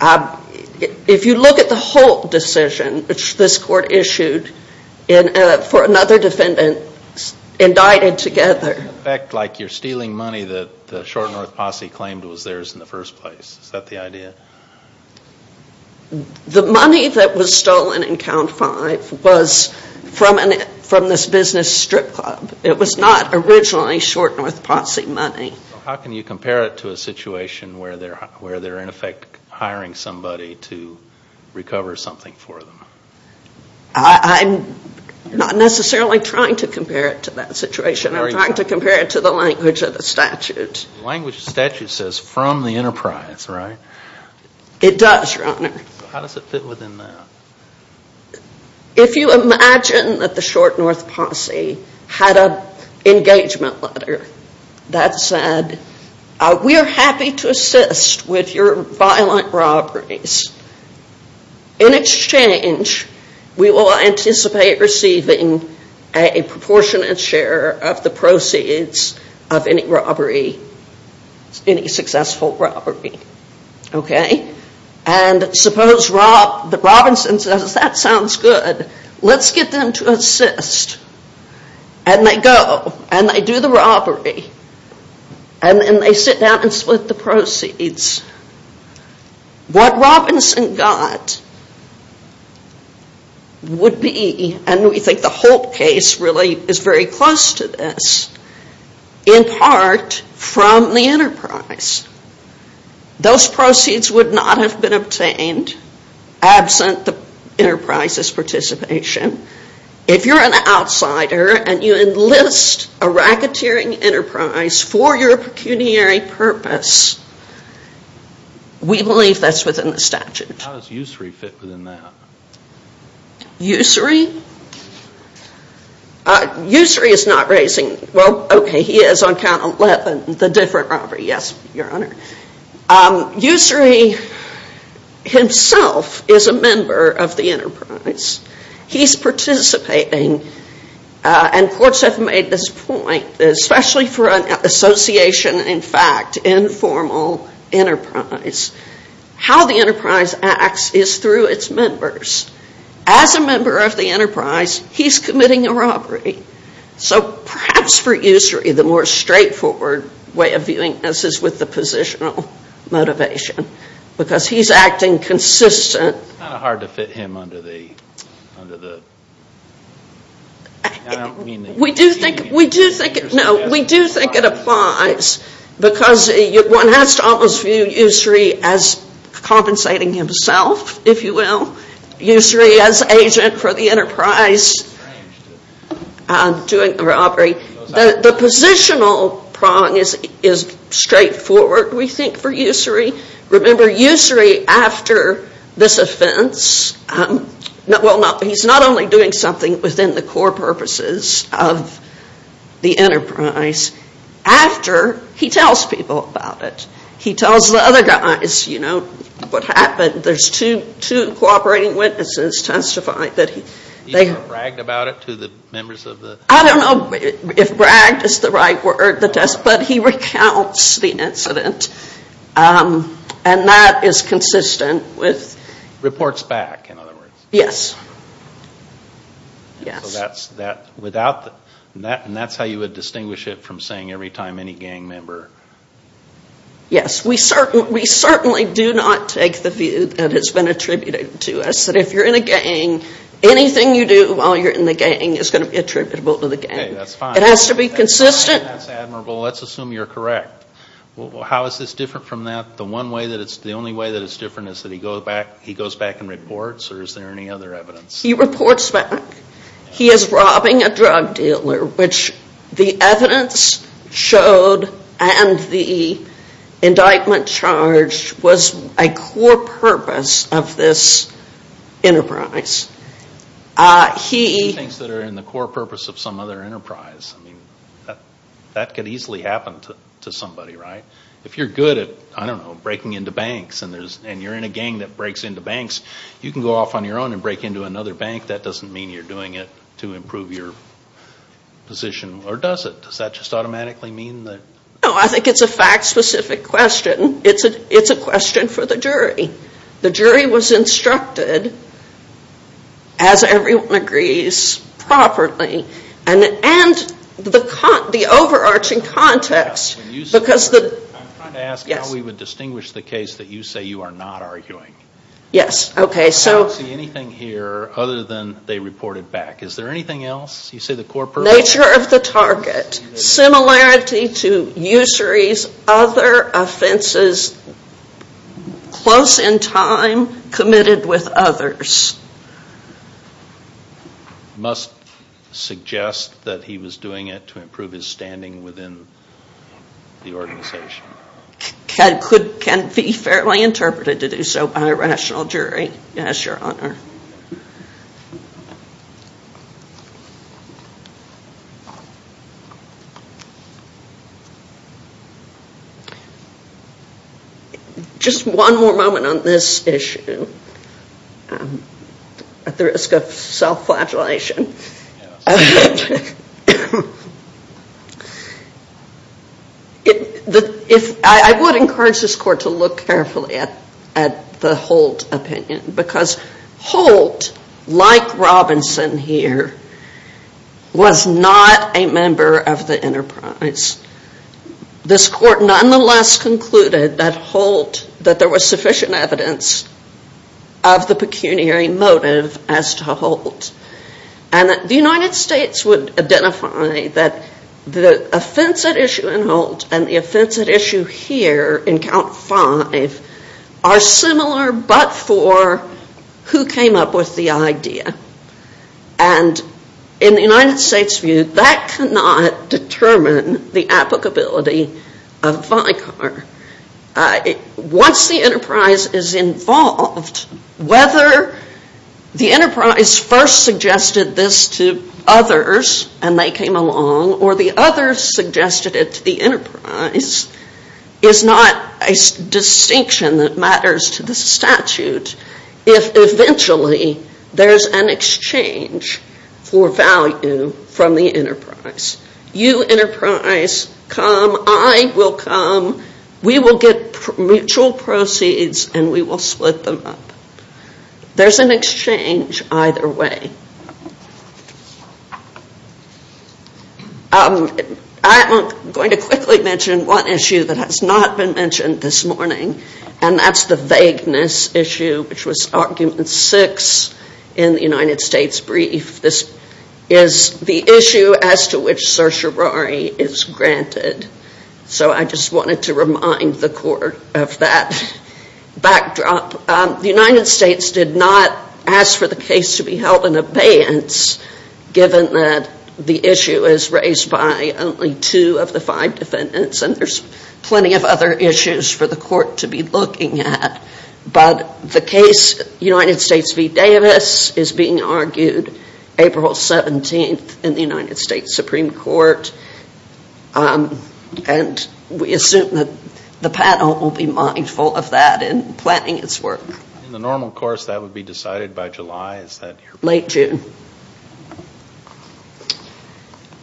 If you look at the whole decision this court issued for another defendant indicted together... It doesn't effect like you're stealing money that the Short North Posse claimed was theirs in the first place. Is that the idea? The money that was stolen in count five was from this business strip club. It was not originally Short North Posse money. How can you compare it to a situation where they're, in effect, hiring somebody to recover something for them? I'm not necessarily trying to compare it to that situation. I'm trying to compare it to the language of the statute. The language of the statute says, from the enterprise, right? It does, Your Honor. How does it fit within that? If you imagine that the Short North Posse had an engagement letter that said, we are happy to assist with your violent robberies. In exchange, we will anticipate receiving a proportionate share of the proceeds of any robbery, any successful robbery. Okay? And suppose Robinson says, that sounds good. Let's get them to assist. And they go. And they do the robbery. And they sit down and split the proceeds. What Robinson got would be, and we think the Holt case really is very close to this, in part, from the enterprise. Those proceeds would not have been obtained, absent the enterprise's participation. If you're an outsider and you enlist a racketeering enterprise for your pecuniary purpose, we believe that's within the statute. How does Ussery fit within that? Ussery? Ussery is not raising, well, okay, he is on count 11, the different robbery. Yes, Your Honor. Ussery himself is a member of the enterprise. He's participating, and courts have made this point, especially for an association, in fact, informal enterprise. How the enterprise acts is through its members. As a member of the enterprise, he's committing a robbery. So perhaps for Ussery, the more straightforward way of viewing this is with the positional motivation, because he's acting consistent. It's kind of hard to fit him under the... We do think it applies, because one has to almost view Ussery as compensating himself, if you will. Ussery as agent for the enterprise doing the robbery. The positional prong is straightforward, we think, for Ussery. Remember, Ussery, after this offense, he's not only doing something within the core purposes of the enterprise. After, he tells people about it. He tells the other guys, you know, what happened. There's two cooperating witnesses testify that he... He bragged about it to the members of the... I don't know if bragged is the right word, but he recounts the incident. And that is consistent with... Reports back, in other words. Yes. So that's how you would distinguish it from saying every time any gang member... Yes. We certainly do not take the view that has been attributed to us, that if you're in a gang, anything you do while you're in the gang is going to be attributable to the gang. Okay, that's fine. It has to be consistent. That's admirable. Let's assume you're correct. How is this different from that? The one way that it's... The only way that it's different is that he goes back and reports, or is there any other evidence? He reports back. He is robbing a drug dealer, which the evidence showed and the indictment charged was a core purpose of this enterprise. He... Things that are in the core purpose of some other enterprise. I mean, that could easily happen to somebody, right? If you're good at, I don't know, breaking into banks, and you're in a gang that breaks into banks, you can go off on your own and break into another bank. That doesn't mean you're doing it to improve your position, or does it? Does that just automatically mean that... No, I think it's a fact-specific question. It's a question for the jury. The jury was instructed, as everyone agrees, properly, and the overarching context, because the... I'm trying to ask how we would distinguish the case that you say you are not arguing. Yes, okay, so... I don't see anything here other than they reported back. Is there anything else? You say the core purpose... Nature of the target. Similarity to usury's other offenses close in time committed with others. Must suggest that he was doing it to improve his standing within the organization. Can be fairly interpreted to do so by a rational jury. Yes, Your Honor. Just one more moment on this issue, at the risk of self-flagellation. I would encourage this court to look carefully at the Holt opinion, because Holt, like Robinson here, was not a member of the enterprise. This court nonetheless concluded that Holt, that there was sufficient evidence of the pecuniary motive as to Holt. And that the United States would identify that the offensive issue in Holt and the offensive issue here in count five are similar but for who came up with the idea. And in the United States' view, that cannot determine the applicability of Vicar. Once the enterprise is involved, whether the enterprise first suggested this to others and they came along, or the others suggested it to the enterprise, is not a distinction that matters to the statute, if eventually there's an exchange for value from the enterprise. You, enterprise, come. I will come. We will get mutual proceeds and we will split them up. There's an exchange either way. I am going to quickly mention one issue that has not been mentioned this morning, and that's the vagueness issue, which was argument six in the United States' brief. This is the issue as to which certiorari is granted. So I just wanted to remind the court of that backdrop. The United States did not ask for the case to be held in abeyance, given that the issue is raised by only two of the five defendants and there's plenty of other issues for the court to be looking at. But the case United States v. Davis is being argued April 17th in the United States Supreme Court, and we assume that the panel will be mindful of that in planning its work. In the normal course, that would be decided by July, is that correct? Late June.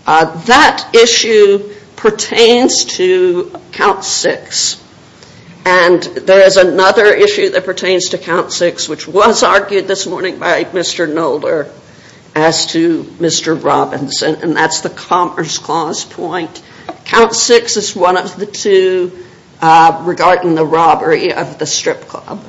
That issue pertains to count six, and there is another issue that pertains to count six, which was argued this morning by Mr. Nolder, as to Mr. Robinson, and that's the Commerce Clause point. Count six is one of the two regarding the robbery of the strip club.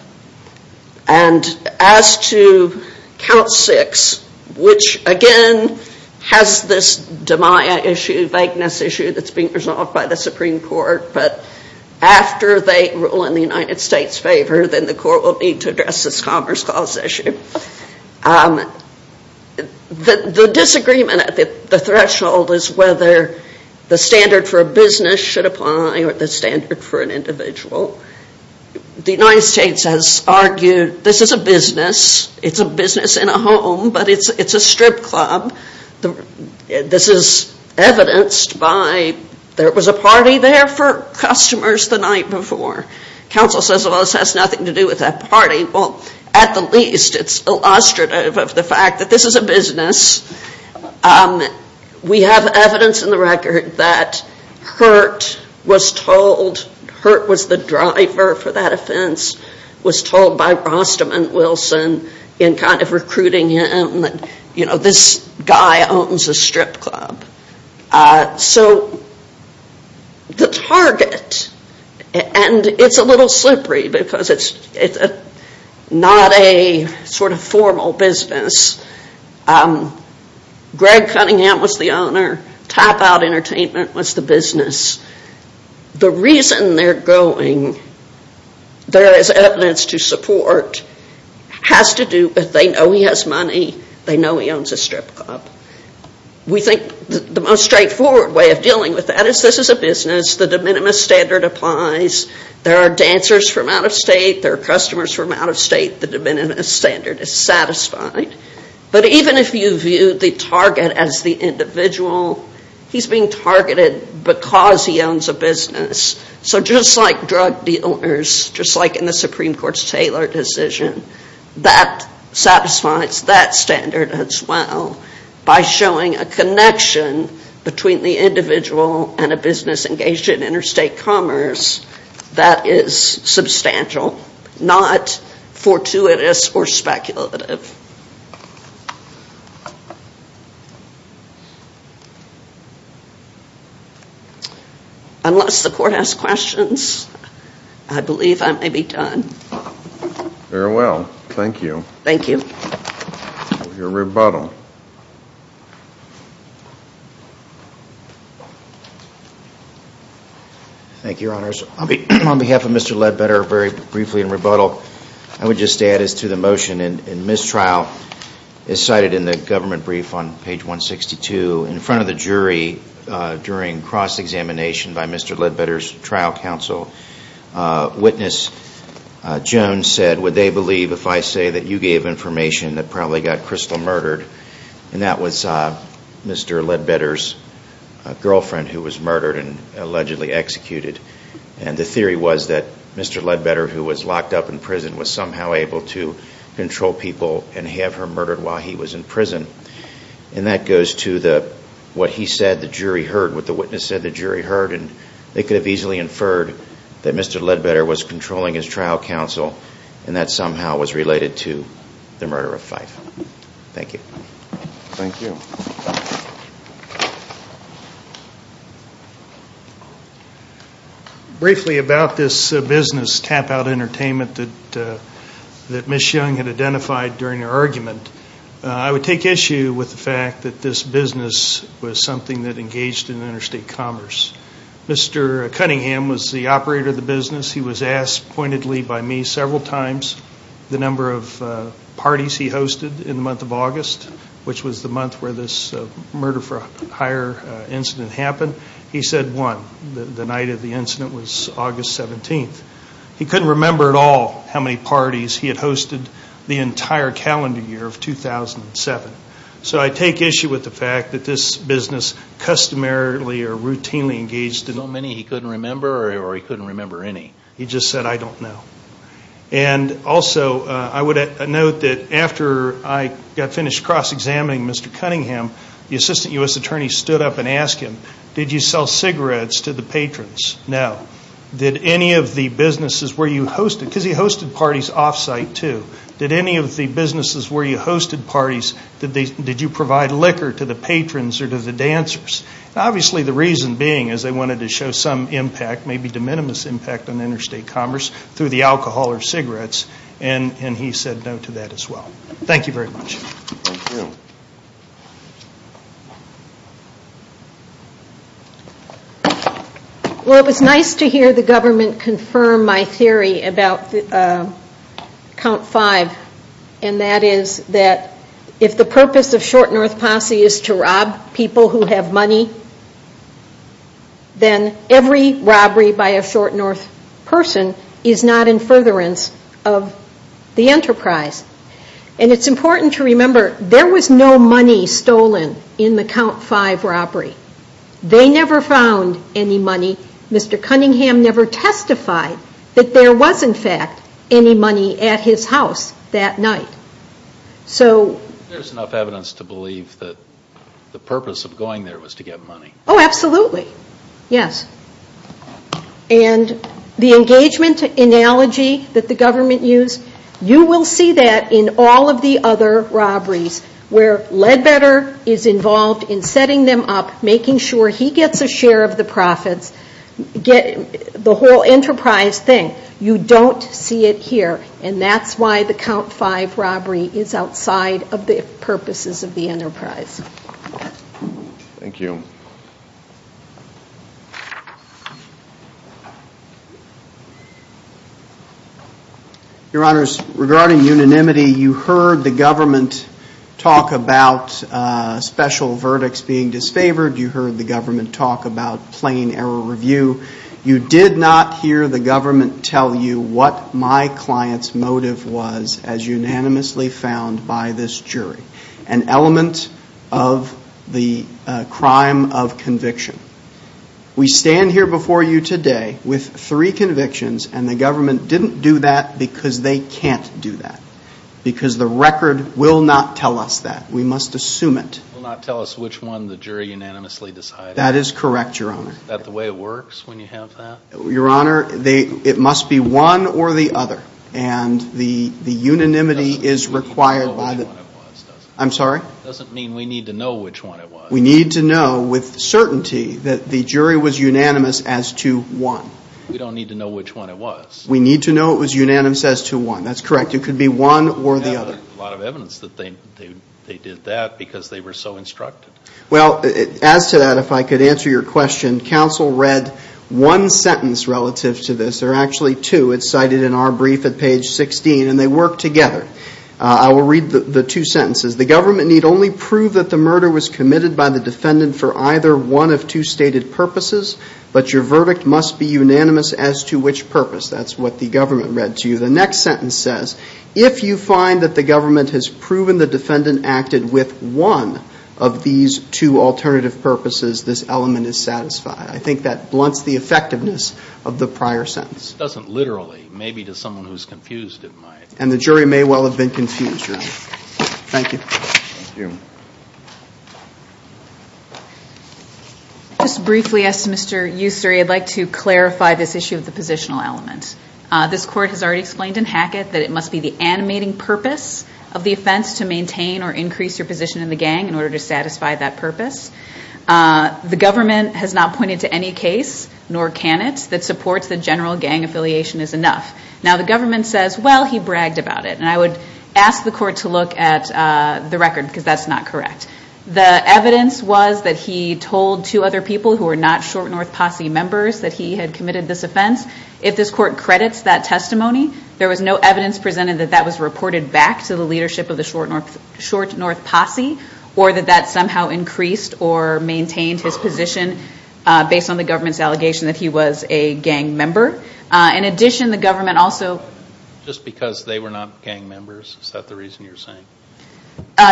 And as to count six, which again has this demia issue, vagueness issue that's being resolved by the Supreme Court, but after they rule in the United States' favor, then the court will need to address this Commerce Clause issue. The disagreement at the threshold is whether the standard for a business should apply or the standard for an individual. The United States has argued this is a business. It's a business in a home, but it's a strip club. This is evidenced by there was a party there for customers the night before. Counsel says, well, this has nothing to do with that party. Well, at the least, it's illustrative of the fact that this is a business. We have evidence in the record that Hurt was told, Hurt was the driver for that offense, was told by Rostam and Wilson in kind of recruiting him, that this guy owns a strip club. So the target, and it's a little slippery because it's not a sort of formal business. Greg Cunningham was the owner. Tap Out Entertainment was the business. The reason they're going, there is evidence to support, has to do with they know he has money. They know he owns a strip club. We think the most straightforward way of dealing with that is this is a business. The de minimis standard applies. There are dancers from out of state. There are customers from out of state. The de minimis standard is satisfied. But even if you view the target as the individual, he's being targeted because he owns a business. So just like drug dealers, just like in the Supreme Court's Taylor decision, that satisfies that standard as well by showing a connection between the individual and a business engaged in interstate commerce that is substantial, not fortuitous or speculative. Unless the court has questions, I believe I may be done. Very well. Thank you. Thank you. Your rebuttal. Thank you, Your Honors. On behalf of Mr. Ledbetter, very briefly in rebuttal, I would just add as to the motion in mistrial, as cited in the government brief on page 162, in front of the jury during cross-examination by Mr. Ledbetter's trial counsel, witness Jones said, would they believe if I say that you gave information that probably got Crystal murdered? And that was Mr. Ledbetter's girlfriend who was murdered and allegedly executed. And the theory was that Mr. Ledbetter, who was locked up in prison, was somehow able to control people and have her murdered while he was in prison. And that goes to what he said the jury heard, what the witness said the jury heard, and they could have easily inferred that Mr. Ledbetter was controlling his trial counsel and that somehow was related to the murder of Fife. Thank you. Thank you. Thank you. Briefly about this business, Tap Out Entertainment, that Ms. Young had identified during her argument, I would take issue with the fact that this business was something that engaged in interstate commerce. Mr. Cunningham was the operator of the business. He was asked pointedly by me several times the number of parties he hosted in the month of August, which was the month where this murder for hire incident happened. He said one, the night of the incident was August 17th. He couldn't remember at all how many parties he had hosted the entire calendar year of 2007. So I take issue with the fact that this business customarily or routinely engaged in so many he couldn't remember or he couldn't remember any. He just said, I don't know. And also I would note that after I got finished cross-examining Mr. Cunningham, the assistant U.S. attorney stood up and asked him, did you sell cigarettes to the patrons? No. Did any of the businesses where you hosted, because he hosted parties off-site too, did any of the businesses where you hosted parties, did you provide liquor to the patrons or to the dancers? Obviously the reason being is they wanted to show some impact, maybe de minimis impact on interstate commerce through the alcohol or cigarettes, and he said no to that as well. Thank you very much. Thank you. Well, it was nice to hear the government confirm my theory about count five, and that is that if the purpose of Short North Posse is to rob people who have money, then every robbery by a Short North person is not in furtherance of the enterprise. And it's important to remember there was no money stolen in the count five robbery. They never found any money. Mr. Cunningham never testified that there was, in fact, any money at his house that night. There's enough evidence to believe that the purpose of going there was to get money. Oh, absolutely. Yes. And the engagement analogy that the government used, you will see that in all of the other robberies where Leadbetter is involved in setting them up, making sure he gets a share of the profits, the whole enterprise thing. You don't see it here, and that's why the count five robbery is outside of the purposes of the enterprise. Thank you. Your Honors, regarding unanimity, you heard the government talk about special verdicts being disfavored. You heard the government talk about plain error review. You did not hear the government tell you what my client's motive was as unanimously found by this jury, an element of the crime of conviction. We stand here before you today with three convictions, and the government didn't do that because they can't do that, because the record will not tell us that. We must assume it. It will not tell us which one the jury unanimously decided. That is correct, Your Honor. Is that the way it works when you have that? Your Honor, it must be one or the other, and the unanimity is required. It doesn't mean we need to know which one it was, does it? I'm sorry? It doesn't mean we need to know which one it was. We need to know with certainty that the jury was unanimous as to one. We don't need to know which one it was. We need to know it was unanimous as to one. That's correct. It could be one or the other. We have a lot of evidence that they did that because they were so instructed. Well, as to that, if I could answer your question, counsel read one sentence relative to this, or actually two. It's cited in our brief at page 16, and they work together. I will read the two sentences. The government need only prove that the murder was committed by the defendant for either one of two stated purposes, but your verdict must be unanimous as to which purpose. That's what the government read to you. The next sentence says, if you find that the government has proven the defendant acted with one of these two alternative purposes, this element is satisfied. I think that blunts the effectiveness of the prior sentence. It doesn't literally. Maybe to someone who's confused it might. And the jury may well have been confused. Thank you. Just briefly, as to Mr. Ussery, I'd like to clarify this issue of the positional element. This court has already explained in Hackett that it must be the animating purpose of the offense to maintain or increase your position in the gang in order to satisfy that purpose. The government has not pointed to any case, nor can it, that supports the general gang affiliation is enough. Now, the government says, well, he bragged about it. And I would ask the court to look at the record because that's not correct. The evidence was that he told two other people who were not short North Posse members that he had committed this offense. If this court credits that testimony, there was no evidence presented that that was reported back to the leadership of the short North Posse or that that somehow increased or maintained his position based on the government's allegation that he was a gang member. In addition, the government also- Just because they were not gang members, is that the reason you're saying?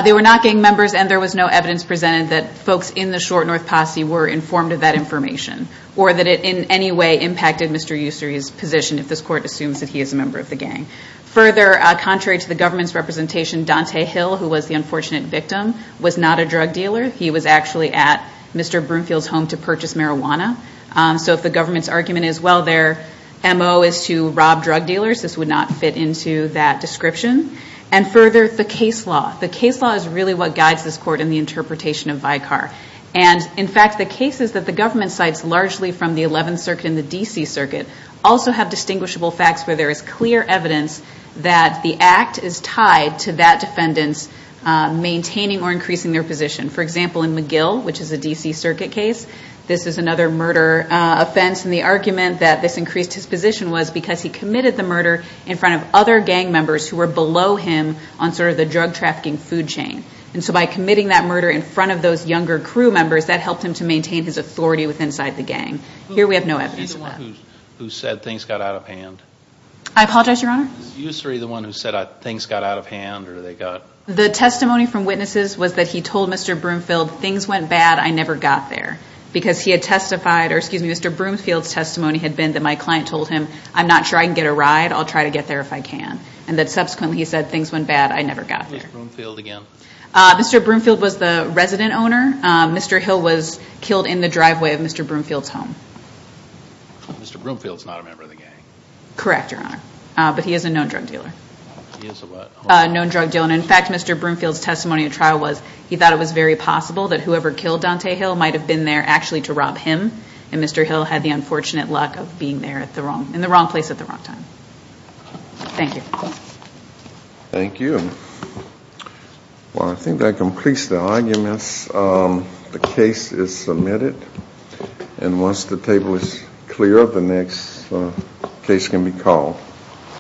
They were not gang members, and there was no evidence presented that folks in the short North Posse were informed of that information or that it in any way impacted Mr. Ussery's position if this court assumes that he is a member of the gang. Further, contrary to the government's representation, Dante Hill, who was the unfortunate victim, was not a drug dealer. He was actually at Mr. Broomfield's home to purchase marijuana. So if the government's argument is, well, their M.O. is to rob drug dealers, this would not fit into that description. And further, the case law. The case law is really what guides this court in the interpretation of Vicar. And, in fact, the cases that the government cites largely from the 11th Circuit and the D.C. Circuit also have distinguishable facts where there is clear evidence that the act is tied to that defendant's maintaining or increasing their position. For example, in McGill, which is a D.C. Circuit case, this is another murder offense, and the argument that this increased his position was because he committed the murder in front of other gang members who were below him on sort of the drug trafficking food chain. And so by committing that murder in front of those younger crew members, that helped him to maintain his authority inside the gang. Here we have no evidence of that. Was he the one who said things got out of hand? I apologize, Your Honor? Was Ussery the one who said things got out of hand or they got... The testimony from witnesses was that he told Mr. Broomfield, things went bad, I never got there. Because he had testified, or excuse me, Mr. Broomfield's testimony had been that my client told him, I'm not sure I can get a ride, I'll try to get there if I can. And that subsequently he said, things went bad, I never got there. Who was Mr. Broomfield again? Mr. Broomfield was the resident owner. Mr. Hill was killed in the driveway of Mr. Broomfield's home. Mr. Broomfield's not a member of the gang? Correct, Your Honor. But he is a known drug dealer. He is a what? A known drug dealer. And in fact, Mr. Broomfield's testimony at trial was he thought it was very possible that whoever killed Dante Hill might have been there actually to rob him, and Mr. Hill had the unfortunate luck of being there in the wrong place at the wrong time. Thank you. Thank you. Well, I think that completes the arguments. The case is submitted. And once the table is clear, the next case can be called.